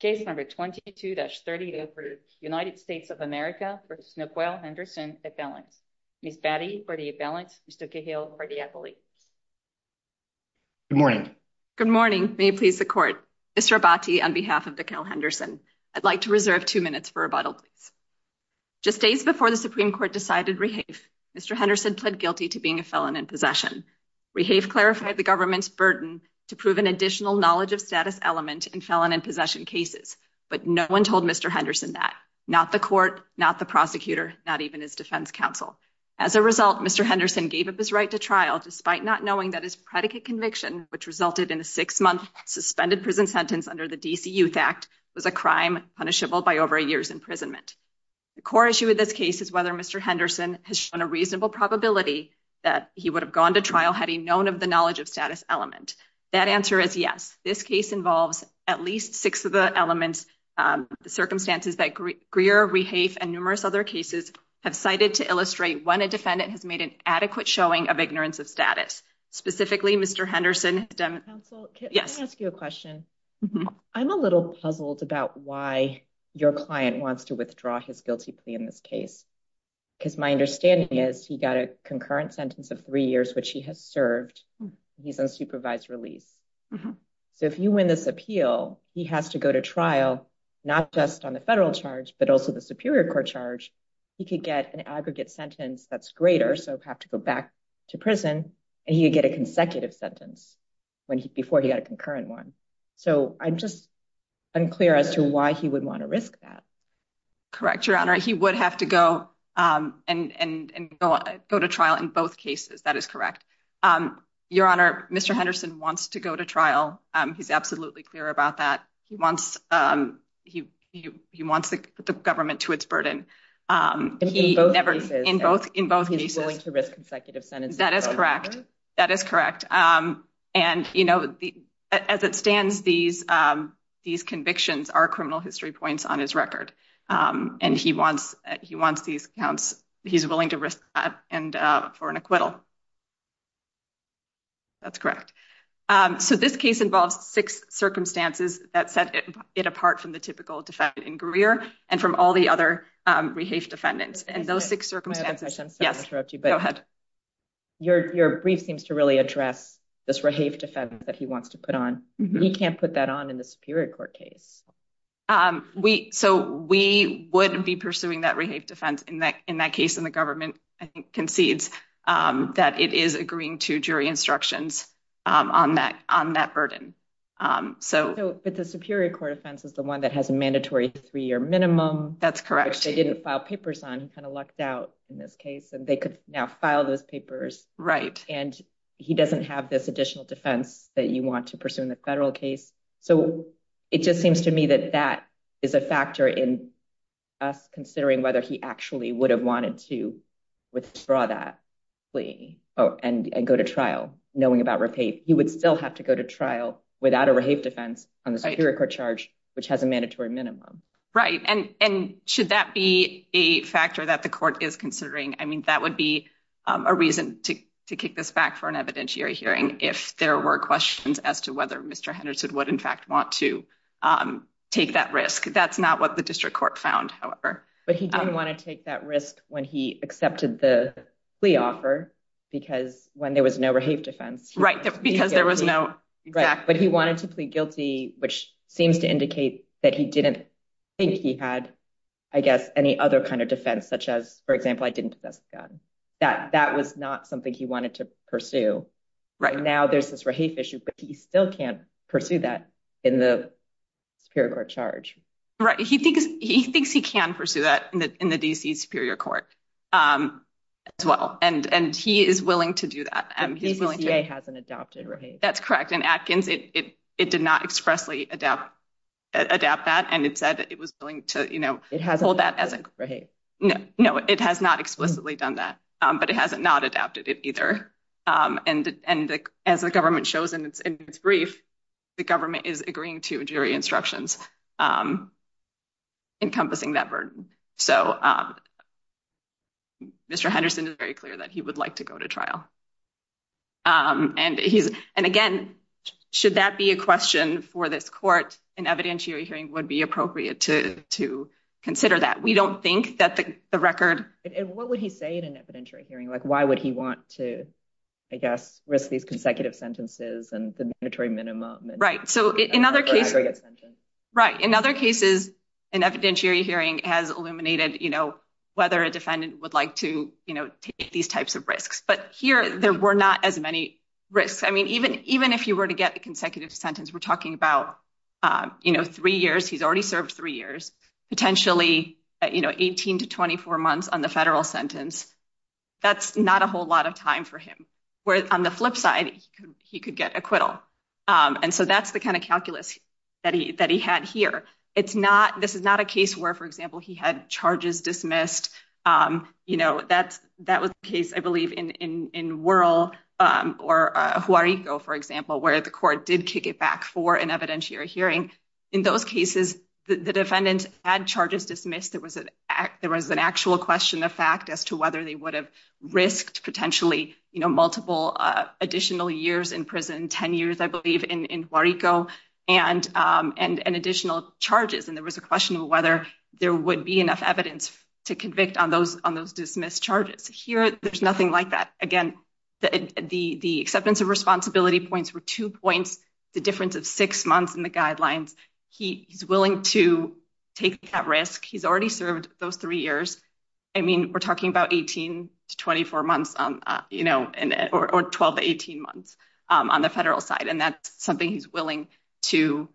Case number 22-30 for United States of America v. Naquel Henderson, a felon. Ms. Batty for the appellant. Mr. Cahill for the appellate. Good morning. Good morning. May it please the Court. Mr. Abbati on behalf of Naquel Henderson. I'd like to reserve two minutes for rebuttal, please. Just days before the Supreme Court decided Rehaef, Mr. Henderson pled guilty to being a felon in possession. Rehaef clarified the government's burden to prove an additional knowledge of status element in felon in possession cases. But no one told Mr. Henderson that. Not the court, not the prosecutor, not even his defense counsel. As a result, Mr. Henderson gave up his right to trial despite not knowing that his predicate conviction, which resulted in a six-month suspended prison sentence under the D.C. Youth Act, was a crime punishable by over a year's imprisonment. The core issue with this case is whether Mr. Henderson has shown a reasonable probability that he would have gone to trial had he known of the knowledge of status element. That answer is yes. This case involves at least six of the elements, the circumstances that Greer, Rehaef, and numerous other cases have cited to illustrate when a defendant has made an adequate showing of ignorance of status. Specifically, Mr. Henderson... Counsel, can I ask you a question? I'm a little puzzled about why your client wants to withdraw his guilty plea in this case. Because my understanding is he got a concurrent sentence of three years, which he has served. He's on supervised release. So if you win this appeal, he has to go to trial, not just on the federal charge, but also the Superior Court charge. He could get an aggregate sentence that's greater, so have to go back to prison. And he could get a consecutive sentence before he got a concurrent one. So I'm just unclear as to why he would want to risk that. Correct, Your Honor. He would have to go and go to trial in both cases. That is correct. Your Honor, Mr. Henderson wants to go to trial. He's absolutely clear about that. He wants the government to its burden. In both cases. He's willing to risk consecutive sentences. That is correct. That is correct. And, you know, as it stands, these convictions are criminal history points on his record. And he wants these counts. He's willing to risk that for an acquittal. That's correct. So this case involves six circumstances that set it apart from the typical defendant in Greer and from all the other rehafe defendants. Yes. Go ahead. Your brief seems to really address this rehafe defense that he wants to put on. He can't put that on in the Superior Court case. So we would be pursuing that rehafe defense in that case. And the government, I think, concedes that it is agreeing to jury instructions on that burden. But the Superior Court offense is the one that has a mandatory three-year minimum. That's correct. Which they didn't file papers on. He kind of lucked out in this case. And they could now file those papers. Right. And he doesn't have this additional defense that you want to pursue in the federal case. So it just seems to me that that is a factor in us considering whether he actually would have wanted to withdraw that plea and go to trial, knowing about rehafe. He would still have to go to trial without a rehafe defense on the Superior Court charge, which has a mandatory minimum. Right. And should that be a factor that the court is considering? I mean, that would be a reason to kick this back for an evidentiary hearing if there were questions as to whether Mr. Henderson would, in fact, want to take that risk. That's not what the district court found, however. But he didn't want to take that risk when he accepted the plea offer because when there was no rehafe defense. Right. Because there was no. Right. But he wanted to plead guilty, which seems to indicate that he didn't think he had, I guess, any other kind of defense, such as, for example, I didn't possess a gun. That was not something he wanted to pursue. Right. Now there's this rehafe issue, but he still can't pursue that in the Superior Court charge. Right. He thinks he can pursue that in the D.C. Superior Court as well. And he is willing to do that. The DCCA hasn't adopted rehafe. That's correct. And Atkins, it did not expressly adapt that, and it said it was willing to hold that as a. It hasn't adopted rehafe. No, it has not explicitly done that, but it hasn't not adapted it either. And as the government shows in its brief, the government is agreeing to jury instructions encompassing that burden. So Mr. Henderson is very clear that he would like to go to trial. And again, should that be a question for this court, an evidentiary hearing would be appropriate to consider that. We don't think that the record. And what would he say in an evidentiary hearing? Like, why would he want to, I guess, risk these consecutive sentences and the mandatory minimum? Right. So in other cases. Right. In other cases, an evidentiary hearing has illuminated, you know, whether a defendant would like to take these types of risks. But here there were not as many risks. I mean, even even if you were to get a consecutive sentence, we're talking about, you know, three years. He's already served three years, potentially, you know, 18 to 24 months on the federal sentence. That's not a whole lot of time for him. Where on the flip side, he could get acquittal. And so that's the kind of calculus that he that he had here. It's not this is not a case where, for example, he had charges dismissed. You know, that's that was the case, I believe, in in in rural or who are you go, for example, where the court did kick it back for an evidentiary hearing. In those cases, the defendant had charges dismissed. There was an act. There was an actual question of fact as to whether they would have risked potentially multiple additional years in prison, 10 years, I believe, in Puerto Rico and and additional charges. And there was a question of whether there would be enough evidence to convict on those on those dismissed charges. Here, there's nothing like that. Again, the the the acceptance of responsibility points were two points. The difference of six months in the guidelines. He is willing to take that risk. He's already served those three years. I mean, we're talking about 18 to 24 months, you know, or 12 to 18 months on the federal side. And that's something he's willing to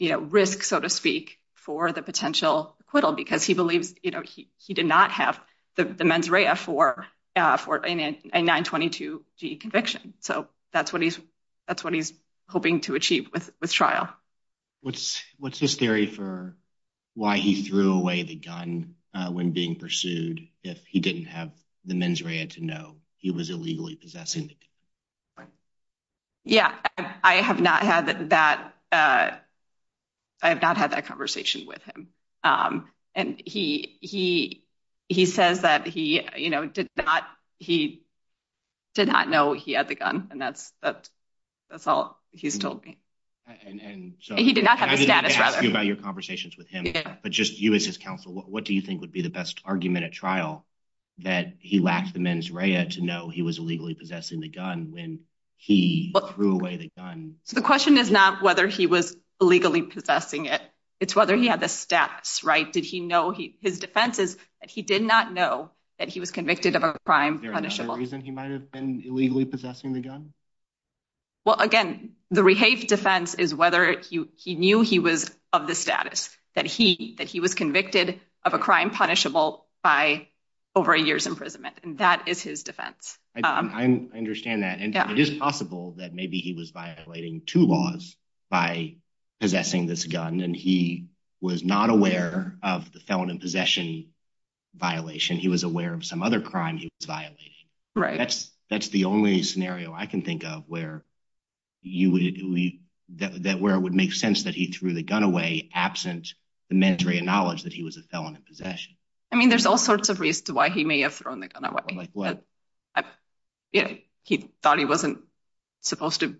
risk, so to speak, for the potential acquittal, because he believes he did not have the mens rea for for a 922 conviction. So that's what he's that's what he's hoping to achieve with with trial. What's what's his theory for why he threw away the gun when being pursued? If he didn't have the mens rea to know he was illegally possessing. Yeah, I have not had that. I have not had that conversation with him. And he he he says that he, you know, did not he did not know he had the gun. And that's that that's all he's told me. And he did not have a status about your conversations with him. But just you as his counsel, what do you think would be the best argument at trial that he lacked the mens rea to know he was illegally possessing the gun when he threw away the gun? So the question is not whether he was illegally possessing it. It's whether he had the stats right. Did he know he his defense is that he did not know that he was convicted of a crime punishable reason he might have been illegally possessing the gun. Well, again, the rehab defense is whether he knew he was of the status that he that he was convicted of a crime punishable by over a year's imprisonment. And that is his defense. I understand that. And it is possible that maybe he was violating two laws by possessing this gun. And he was not aware of the felon in possession violation. He was aware of some other crime he was violating. Right. That's that's the only scenario I can think of where you would that where it would make sense that he threw the gun away absent the mens rea knowledge that he was a felon in possession. I mean, there's all sorts of reasons why he may have thrown the gun away. Like what? He thought he wasn't supposed to have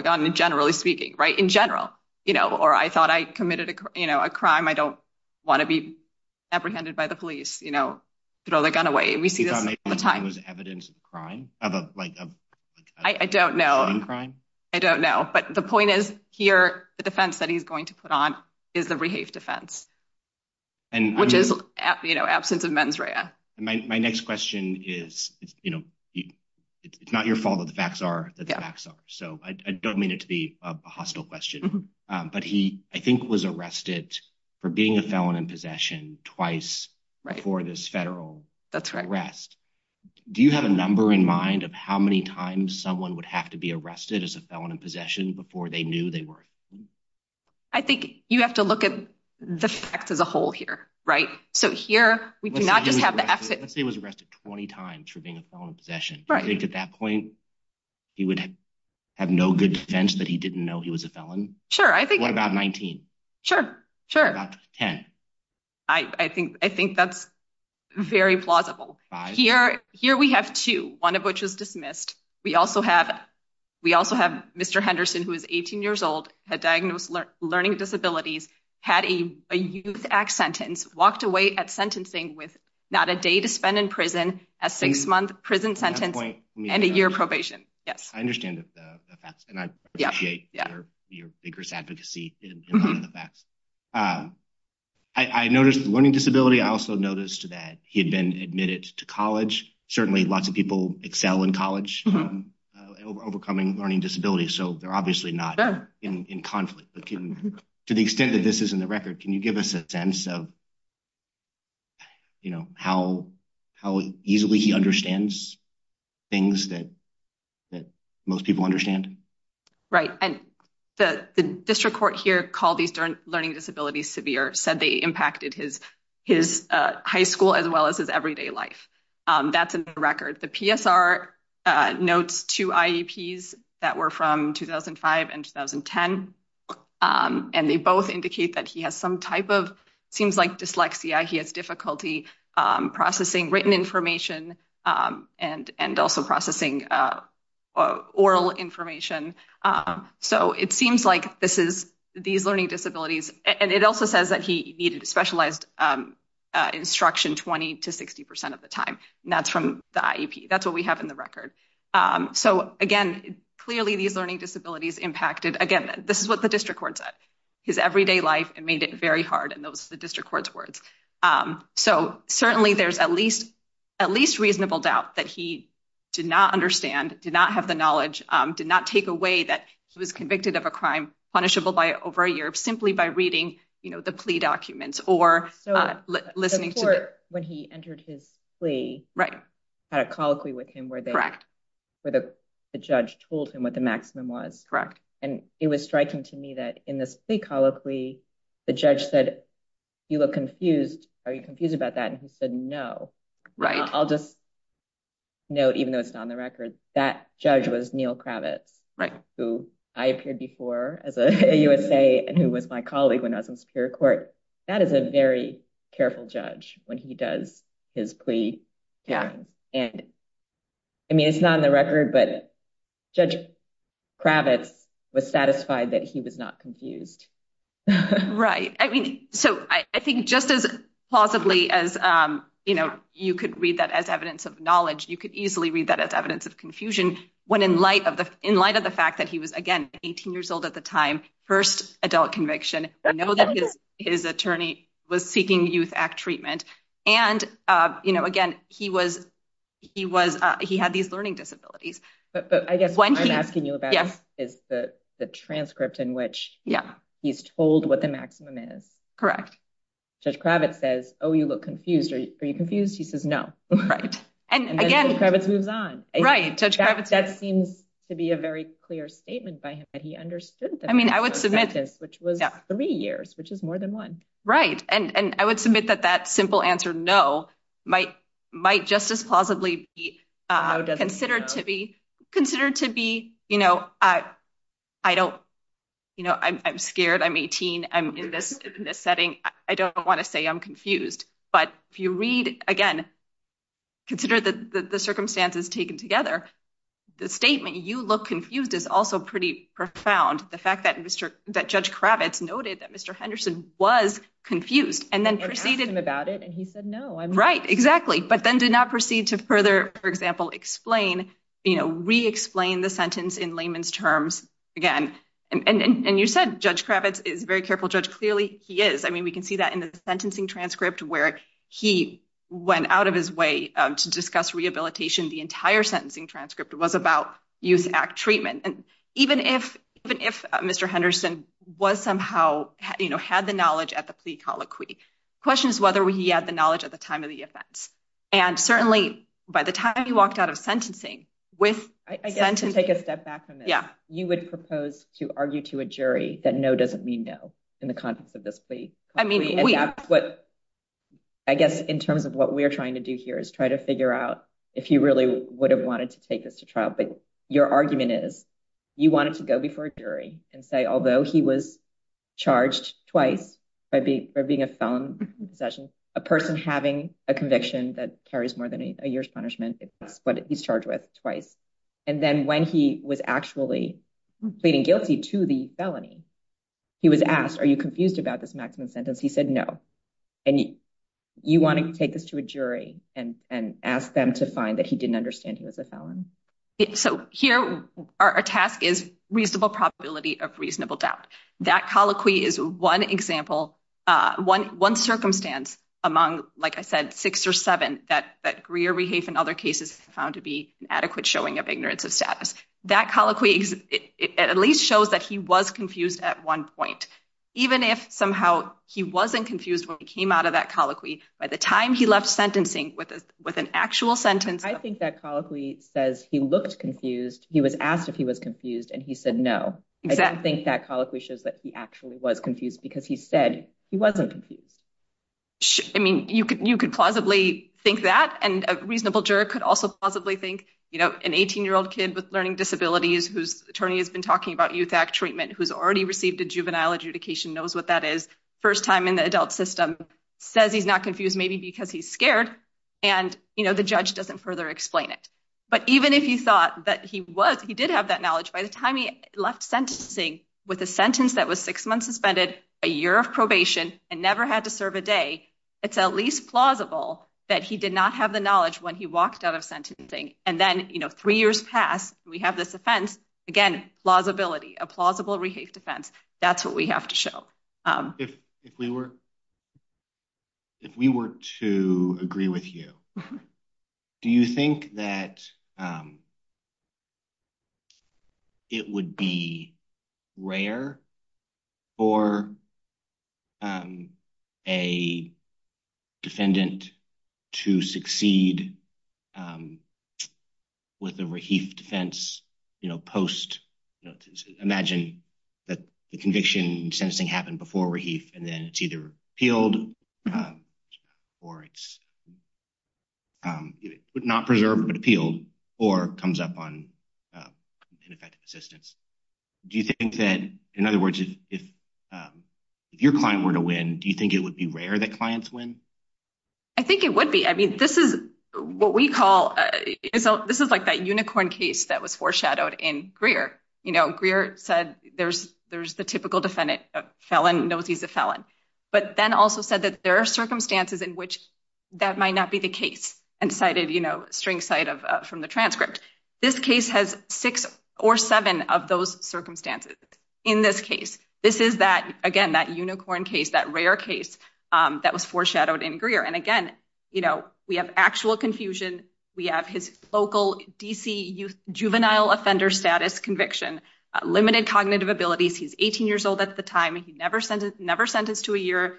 a gun in generally speaking. Right. In general. You know, or I thought I committed a crime. I don't want to be apprehended by the police, you know, throw the gun away. We see the time was evidence of crime of like, I don't know. I don't know. But the point is, here, the defense that he's going to put on is the rehab defense. And which is, you know, absence of mens rea. My next question is, you know, it's not your fault that the facts are the facts are. So I don't mean it to be a hostile question, but he, I think, was arrested for being a felon in possession twice. Right. For this federal. That's correct. Rest. Do you have a number in mind of how many times someone would have to be arrested as a felon in possession before they knew they were? I think you have to look at the facts as a whole here. Right. So here we do not just have to say was arrested 20 times for being a felon in possession. Right. At that point, he would have no good defense that he didn't know he was a felon. Sure. I think what about 19? Sure. Sure. I think I think that's very plausible here. Here we have two, one of which is dismissed. We also have we also have Mr. Henderson, who is 18 years old, had diagnosed learning disabilities, had a youth act sentence, walked away at sentencing with not a day to spend in prison, a six month prison sentence and a year probation. Yes, I understand the facts and I appreciate your vigorous advocacy in the facts. I noticed learning disability. I also noticed that he had been admitted to college. Certainly, lots of people excel in college, overcoming learning disabilities. So they're obviously not in conflict to the extent that this is in the record. Can you give us a sense of. You know how how easily he understands things that that most people understand. Right. And the district court here called these learning disabilities severe, said they impacted his his high school as well as his everyday life. That's a record. The PSR notes to IEPs that were from 2005 and 2010, and they both indicate that he has some type of seems like dyslexia. He has difficulty processing written information and and also processing oral information. So it seems like this is these learning disabilities. And it also says that he needed specialized instruction 20 to 60 percent of the time. And that's from the IEP. That's what we have in the record. So, again, clearly these learning disabilities impacted. Again, this is what the district court said his everyday life and made it very hard. And those the district court's words. So certainly there's at least at least reasonable doubt that he did not understand, did not have the knowledge, did not take away that he was convicted of a crime punishable by over a year simply by reading the plea documents or. So listening to it when he entered his plea. Right. Had a colloquy with him where the judge told him what the maximum was. Correct. And it was striking to me that in this plea colloquy, the judge said, you look confused. Are you confused about that? And he said, no. Right. I'll just note, even though it's not on the record, that judge was Neal Kravitz. Right. Who I appeared before as a USA and who was my colleague when I was in Superior Court. That is a very careful judge when he does his plea. Yeah. And. I mean, it's not on the record, but Judge Kravitz was satisfied that he was not confused. Right. I mean, so I think just as plausibly as, you know, you could read that as evidence of knowledge, you could easily read that as evidence of confusion. When in light of the in light of the fact that he was, again, 18 years old at the time. First adult conviction. I know that his attorney was seeking Youth Act treatment. And, you know, again, he was he was he had these learning disabilities. But I guess what I'm asking you about is the transcript in which he's told what the maximum is. Correct. Judge Kravitz says, oh, you look confused. Are you confused? He says no. Right. And again, Kravitz moves on. Right. Judge Kravitz. That seems to be a very clear statement by him that he understood. I mean, I would submit this, which was three years, which is more than one. Right. And I would submit that that simple answer, no, might might just as plausibly be considered to be considered to be, you know, I don't you know, I'm scared. I'm 18. I'm in this setting. I don't want to say I'm confused. But if you read again, consider that the circumstances taken together, the statement you look confused is also pretty profound. The fact that Mr. that Judge Kravitz noted that Mr. Henderson was confused and then proceeded about it. And he said, no, I'm right. Exactly. But then did not proceed to further, for example, explain, you know, re explain the sentence in layman's terms again. And you said Judge Kravitz is very careful judge. Clearly, he is. I mean, we can see that in the sentencing transcript where he went out of his way to discuss rehabilitation. The entire sentencing transcript was about Youth Act treatment. And even if even if Mr. Henderson was somehow, you know, had the knowledge at the plea colloquy. Question is whether he had the knowledge at the time of the offense. And certainly by the time he walked out of sentencing with. And to take a step back from it. Yeah. You would propose to argue to a jury that no doesn't mean no in the context of this plea. I mean, that's what I guess in terms of what we're trying to do here is try to figure out if you really would have wanted to take this to trial. But your argument is you wanted to go before a jury and say, although he was charged twice by being a felon possession, a person having a conviction that carries more than a year's punishment is what he's charged with twice. And then when he was actually pleading guilty to the felony, he was asked, are you confused about this maximum sentence? He said no. And you want to take this to a jury and ask them to find that he didn't understand he was a felon. So here are a task is reasonable probability of reasonable doubt. That colloquy is one example, one one circumstance among, like I said, six or seven that that Greer, Rehafe and other cases found to be an adequate showing of ignorance of status. That colloquy at least shows that he was confused at one point, even if somehow he wasn't confused when he came out of that colloquy. By the time he left sentencing with with an actual sentence, I think that colloquy says he looked confused. He was asked if he was confused and he said no. I don't think that colloquy shows that he actually was confused because he said he wasn't confused. I mean, you could you could plausibly think that and a reasonable juror could also possibly think, you know, an 18 year old kid with learning disabilities whose attorney has been talking about Youth Act treatment, who's already received a juvenile adjudication, knows what that is. First time in the adult system says he's not confused, maybe because he's scared and, you know, the judge doesn't further explain it. But even if you thought that he was, he did have that knowledge by the time he left sentencing with a sentence that was six months suspended, a year of probation and never had to serve a day, it's at least plausible that he did not have the knowledge when he walked out of sentencing. And then, you know, three years pass. We have this offense. Again, plausibility, a plausible Rehafe defense. That's what we have to show. If if we were. If we were to agree with you, do you think that. It would be rare for a defendant to succeed. With the Rehafe defense, you know, post, you know, imagine that the conviction sentencing happened before Rehafe and then it's either appealed or it's not preserved, but appealed or comes up on ineffective assistance. Do you think that in other words, if if your client were to win, do you think it would be rare that clients win? I think it would be. I mean, this is what we call. So this is like that unicorn case that was foreshadowed in Greer. You know, Greer said there's there's the typical defendant felon knows he's a felon, but then also said that there are circumstances in which that might not be the case and cited, you know, string side of from the transcript. This case has six or seven of those circumstances. In this case, this is that again, that unicorn case, that rare case that was foreshadowed in Greer. And again, you know, we have actual confusion. We have his local D.C. youth juvenile offender status conviction, limited cognitive abilities. He's 18 years old at the time. He never said never sentenced to a year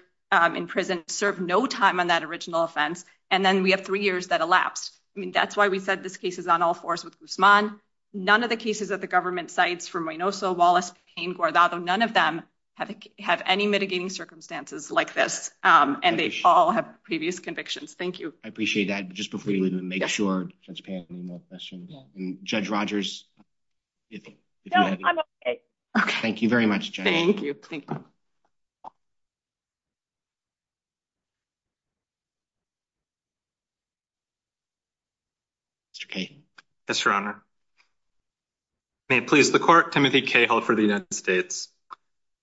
in prison, served no time on that original offense. And then we have three years that elapsed. I mean, that's why we said this case is on all fours with Usman. None of the cases that the government cites from Reynoso, Wallace, Payne, Guardado, none of them have have any mitigating circumstances like this. And they all have previous convictions. Thank you. I appreciate that. Just before you leave, make sure to pay any more questions. Judge Rogers. No, I'm OK. Thank you very much. Thank you. Mr. Kaye. Yes, Your Honor. May it please the court. Timothy Cahill for the United States.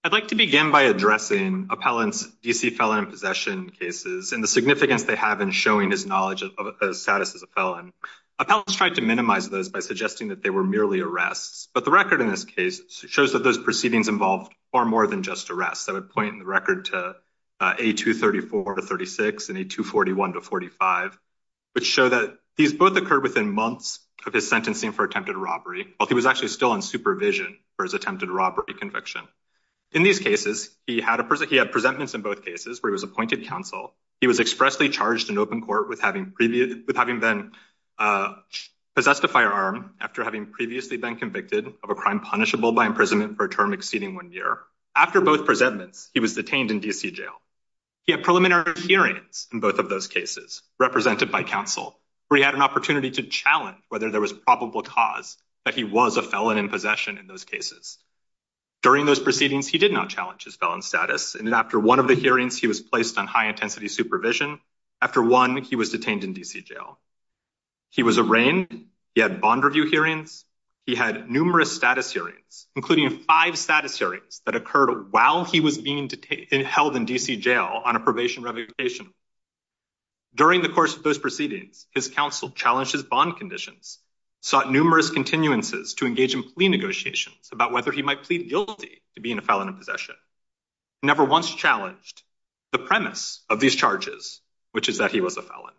I'd like to begin by addressing appellants, D.C. felon and possession cases and the significance they have in showing his knowledge of the status as a felon. Appellants tried to minimize those by suggesting that they were merely arrests. But the record in this case shows that those proceedings involved far more than just arrests. I would point the record to a 234 to 36 and a 241 to 45, which show that these both occurred within months of his sentencing for attempted robbery. Well, he was actually still on supervision for his attempted robbery conviction. In these cases, he had a person he had presentments in both cases where he was appointed counsel. He was expressly charged in open court with having previous with having been possessed a firearm after having previously been convicted of a crime punishable by imprisonment for a term exceeding one year. After both presentments, he was detained in D.C. jail. He had preliminary hearings in both of those cases represented by counsel. We had an opportunity to challenge whether there was probable cause that he was a felon in possession in those cases. During those proceedings, he did not challenge his felon status. And after one of the hearings, he was placed on high intensity supervision. After one, he was detained in D.C. jail. He was arraigned. He had bond review hearings. He had numerous status hearings, including five status hearings that occurred while he was being held in D.C. jail on a probation revocation. During the course of those proceedings, his counsel challenged his bond conditions, sought numerous continuances to engage in plea negotiations about whether he might plead guilty to being a felon in possession. Never once challenged the premise of these charges, which is that he was a felon.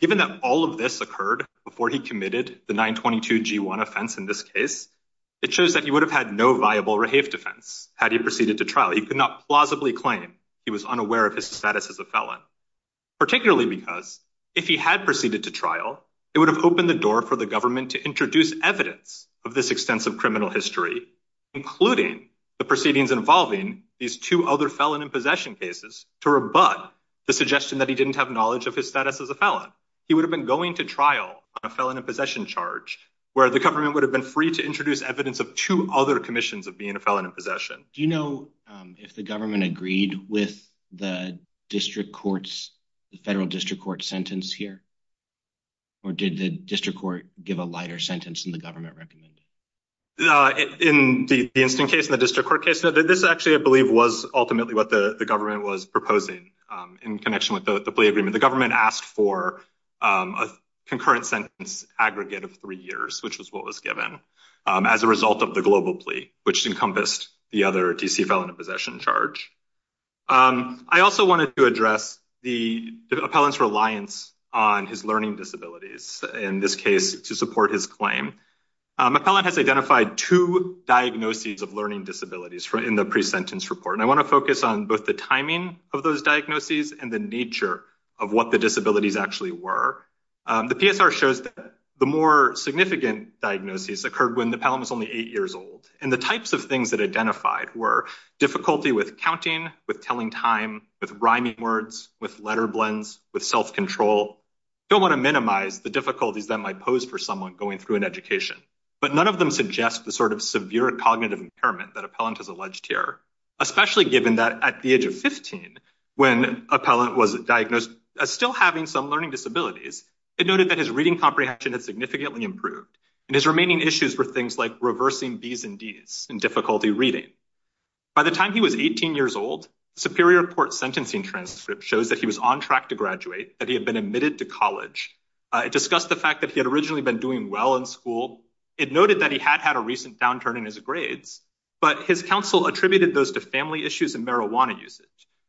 Given that all of this occurred before he committed the 922-G1 offense in this case, it shows that he would have had no viable rehave defense had he proceeded to trial. He could not plausibly claim he was unaware of his status as a felon, particularly because if he had proceeded to trial, it would have opened the door for the government to introduce evidence of this extensive criminal history, including the proceedings involving these two other felon in possession cases, to rebut the suggestion that he didn't have knowledge of his status as a felon. He would have been going to trial on a felon in possession charge, where the government would have been free to introduce evidence of two other commissions of being a felon in possession. Do you know if the government agreed with the district court's, the federal district court's sentence here? Or did the district court give a lighter sentence than the government recommended? In the instant case, in the district court case, this actually, I believe, was ultimately what the government was proposing in connection with the plea agreement. The government asked for a concurrent sentence aggregate of three years, which was what was given as a result of the global plea, which encompassed the other DC felon in possession charge. I also wanted to address the appellant's reliance on his learning disabilities in this case to support his claim. Appellant has identified two diagnoses of learning disabilities in the pre-sentence report, and I want to focus on both the timing of those diagnoses and the nature of what the disabilities actually were. The PSR shows that the more significant diagnoses occurred when the appellant was only eight years old, and the types of things that identified were difficulty with counting, with telling time, with rhyming words, with letter blends, with self-control. I don't want to minimize the difficulties that might pose for someone going through an education, but none of them suggest the sort of severe cognitive impairment that appellant has alleged here, especially given that at the age of 15, when appellant was diagnosed as still having some learning disabilities, it noted that his reading comprehension had significantly improved, and his remaining issues were things like reversing B's and D's in difficulty reading. By the time he was 18 years old, the Superior Court sentencing transcript shows that he was on track to graduate, that he had been admitted to college. It discussed the fact that he had originally been doing well in school. It noted that he had had a recent downturn in his grades, but his counsel attributed those to family issues and marijuana usage.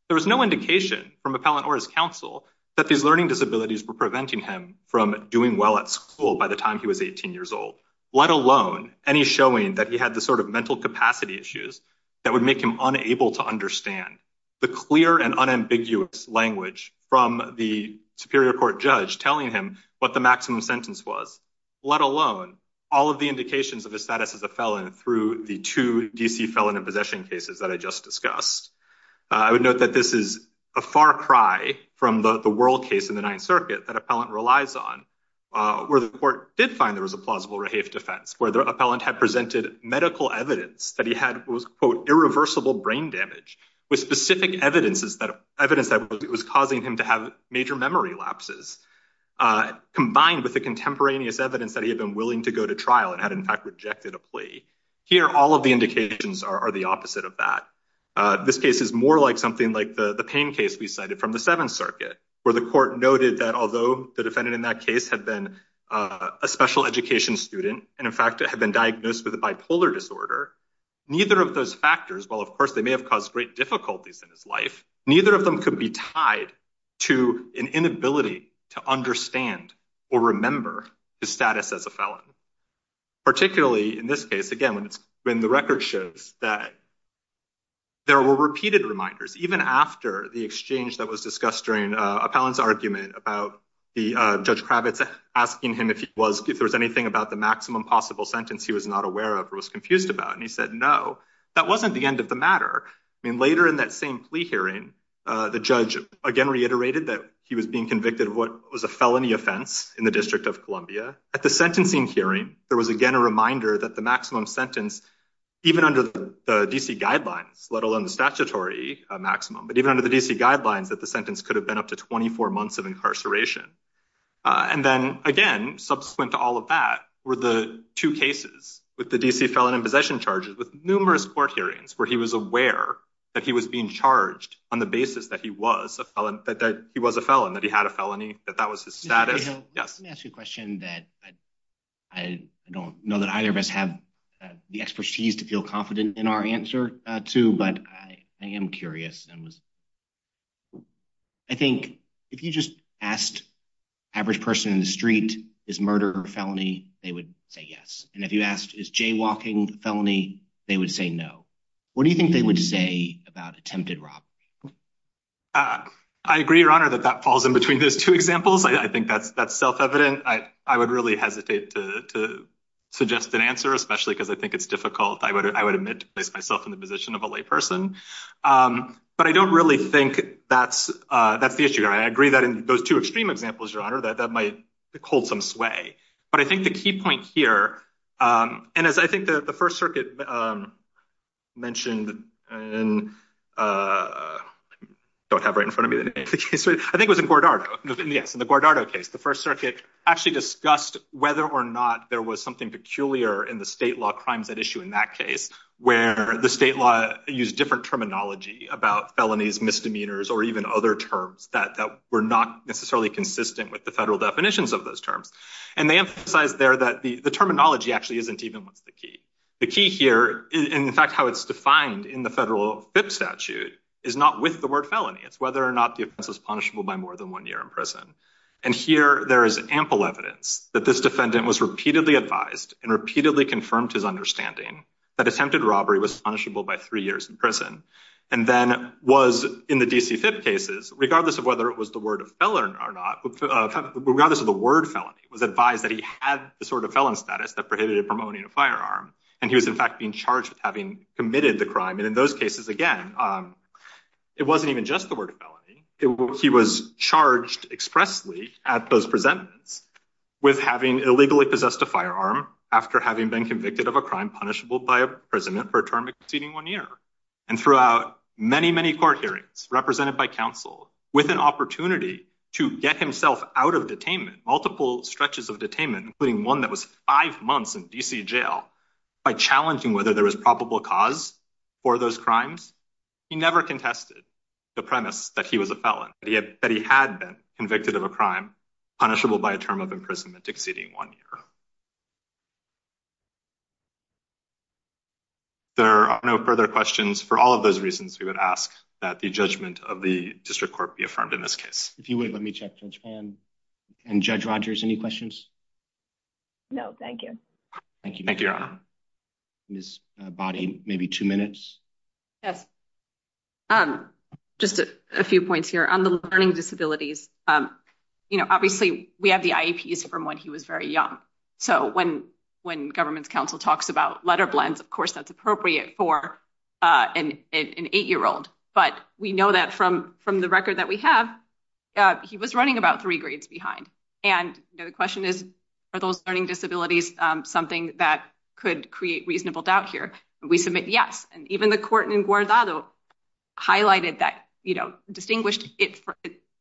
There was no indication from appellant or his counsel that these learning disabilities were preventing him from doing well at school by the time he was 18 years old, let alone any showing that he had the sort of mental capacity issues that would make him unable to understand the clear and unambiguous language from the Superior Court judge telling him what the maximum sentence was, let alone all of the indications of his status as a felon through the two DC felon and possession cases that I just discussed. I would note that this is a far cry from the world case in the Ninth Circuit that appellant relies on, where the court did find there was a plausible rehave defense, where the appellant had presented medical evidence that he had was, quote, irreversible brain damage, with specific evidence that evidence that was causing him to have major memory lapses, combined with the contemporaneous evidence that he had been willing to go to trial and had in fact rejected a plea. Here, all of the indications are the opposite of that. This case is more like something like the pain case we cited from the Seventh Circuit, where the court noted that although the defendant in that case had been a special education student, and in fact had been diagnosed with a bipolar disorder, neither of those factors, while of course they may have caused great difficulties in his life, neither of them could be tied to an inability to understand or remember his status as a felon. Particularly in this case, again, when the record shows that there were repeated reminders, even after the exchange that was discussed during appellant's argument about Judge Kravitz asking him if there was anything about the maximum possible sentence he was not aware of or was confused about, and he said no, that wasn't the end of the matter. Later in that same plea hearing, the judge again reiterated that he was being convicted of what was a felony offense in the District of Columbia. At the sentencing hearing, there was again a reminder that the maximum sentence, even under the D.C. guidelines, let alone the statutory maximum, but even under the D.C. guidelines that the sentence could have been up to 24 months of incarceration. And then, again, subsequent to all of that were the two cases with the D.C. felon in possession charges with numerous court hearings where he was aware that he was being charged on the basis that he was a felon, that he had a felony, that that was his status. Let me ask you a question that I don't know that either of us have the expertise to feel confident in our answer to, but I am curious. I think if you just asked average person in the street, is murder a felony, they would say yes. And if you asked, is jaywalking a felony, they would say no. What do you think they would say about attempted robbery? I agree, Your Honor, that that falls in between those two examples. I think that's self-evident. I would really hesitate to suggest an answer, especially because I think it's difficult. I would admit to place myself in the position of a lay person. But I don't really think that's the issue. I agree that in those two extreme examples, Your Honor, that might hold some sway. But I think the key point here, and as I think the First Circuit mentioned, I don't have right in front of me the name of the case. I think it was in Guardado, yes, in the Guardado case. The First Circuit actually discussed whether or not there was something peculiar in the state law crimes at issue in that case, where the state law used different terminology about felonies, misdemeanors, or even other terms that were not necessarily consistent with the federal definitions of those terms. And they emphasized there that the terminology actually isn't even what's the key. The key here, in fact, how it's defined in the federal FIP statute, is not with the word felony. It's whether or not the offense was punishable by more than one year in prison. And here there is ample evidence that this defendant was repeatedly advised and repeatedly confirmed his understanding that attempted robbery was punishable by three years in prison and then was, in the D.C. FIP cases, regardless of whether it was the word felony, was advised that he had the sort of felon status that prohibited him from owning a firearm. And he was, in fact, being charged with having committed the crime. And in those cases, again, it wasn't even just the word felony. He was charged expressly at those presentments with having illegally possessed a firearm after having been convicted of a crime punishable by imprisonment for a term exceeding one year. And throughout many, many court hearings, represented by counsel, with an opportunity to get himself out of detainment, multiple stretches of detainment, including one that was five months in D.C. jail, by challenging whether there was probable cause for those crimes, he never contested the premise that he was a felon, that he had been convicted of a crime punishable by a term of imprisonment exceeding one year. There are no further questions. For all of those reasons, we would ask that the judgment of the district court be affirmed in this case. If you would, let me check. Judge Pan and Judge Rogers, any questions? No, thank you. Thank you. Thank you, Your Honor. Ms. Boddy, maybe two minutes. Yes. Just a few points here on the learning disabilities. You know, obviously we have the IEPs from when he was very young. So when when government's counsel talks about letter blends, of course, that's appropriate for. An eight year old. But we know that from from the record that we have, he was running about three grades behind. And the question is, are those learning disabilities something that could create reasonable doubt here? We submit yes. And even the court in Guadalajara highlighted that, you know, distinguished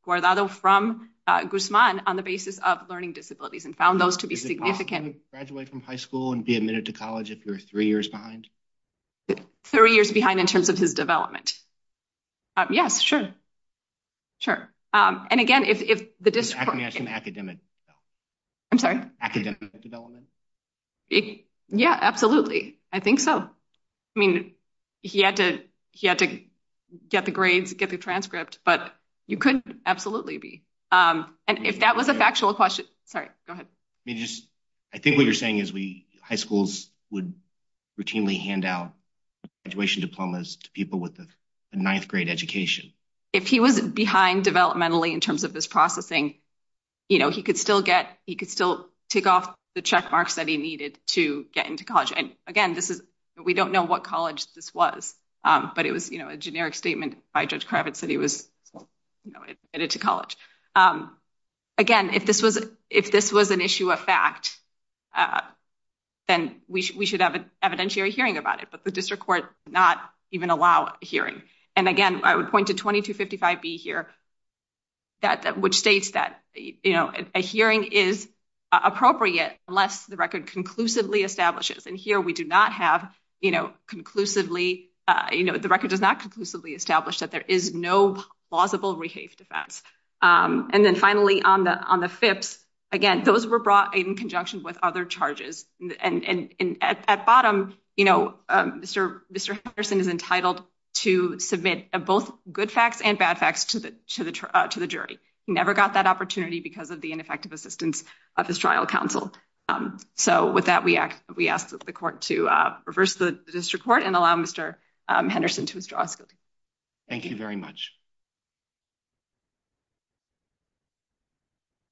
Guadalajara from Guzman on the basis of learning disabilities and found those to be significant. Graduate from high school and be admitted to college if you're three years behind. Three years behind in terms of his development. Yes, sure. Sure. And again, if the district has an academic, I'm sorry, academic development. Yeah, absolutely. I think so. I mean, he had to he had to get the grades, get the transcript. But you could absolutely be. And if that was a factual question. Sorry. Go ahead. I mean, just I think what you're saying is we high schools would routinely hand out graduation diplomas to people with a ninth grade education. If he was behind developmentally in terms of this processing, you know, he could still get he could still take off the check marks that he needed to get into college. And again, this is we don't know what college this was, but it was a generic statement by Judge Kravitz that he was admitted to college. Again, if this was if this was an issue of fact, then we should have an evidentiary hearing about it. But the district court not even allow hearing. And again, I would point to twenty to fifty five B here. That which states that a hearing is appropriate unless the record conclusively establishes. And here we do not have, you know, conclusively, you know, the record does not conclusively establish that there is no plausible rehave defense. And then finally, on the on the fifths, again, those were brought in conjunction with other charges. And at bottom, you know, Mr. Mr. Henderson is entitled to submit both good facts and bad facts to the to the to the jury. Never got that opportunity because of the ineffective assistance of his trial counsel. So with that, we act. We asked the court to reverse the district court and allow Mr. Henderson to withdraw. Thank you very much.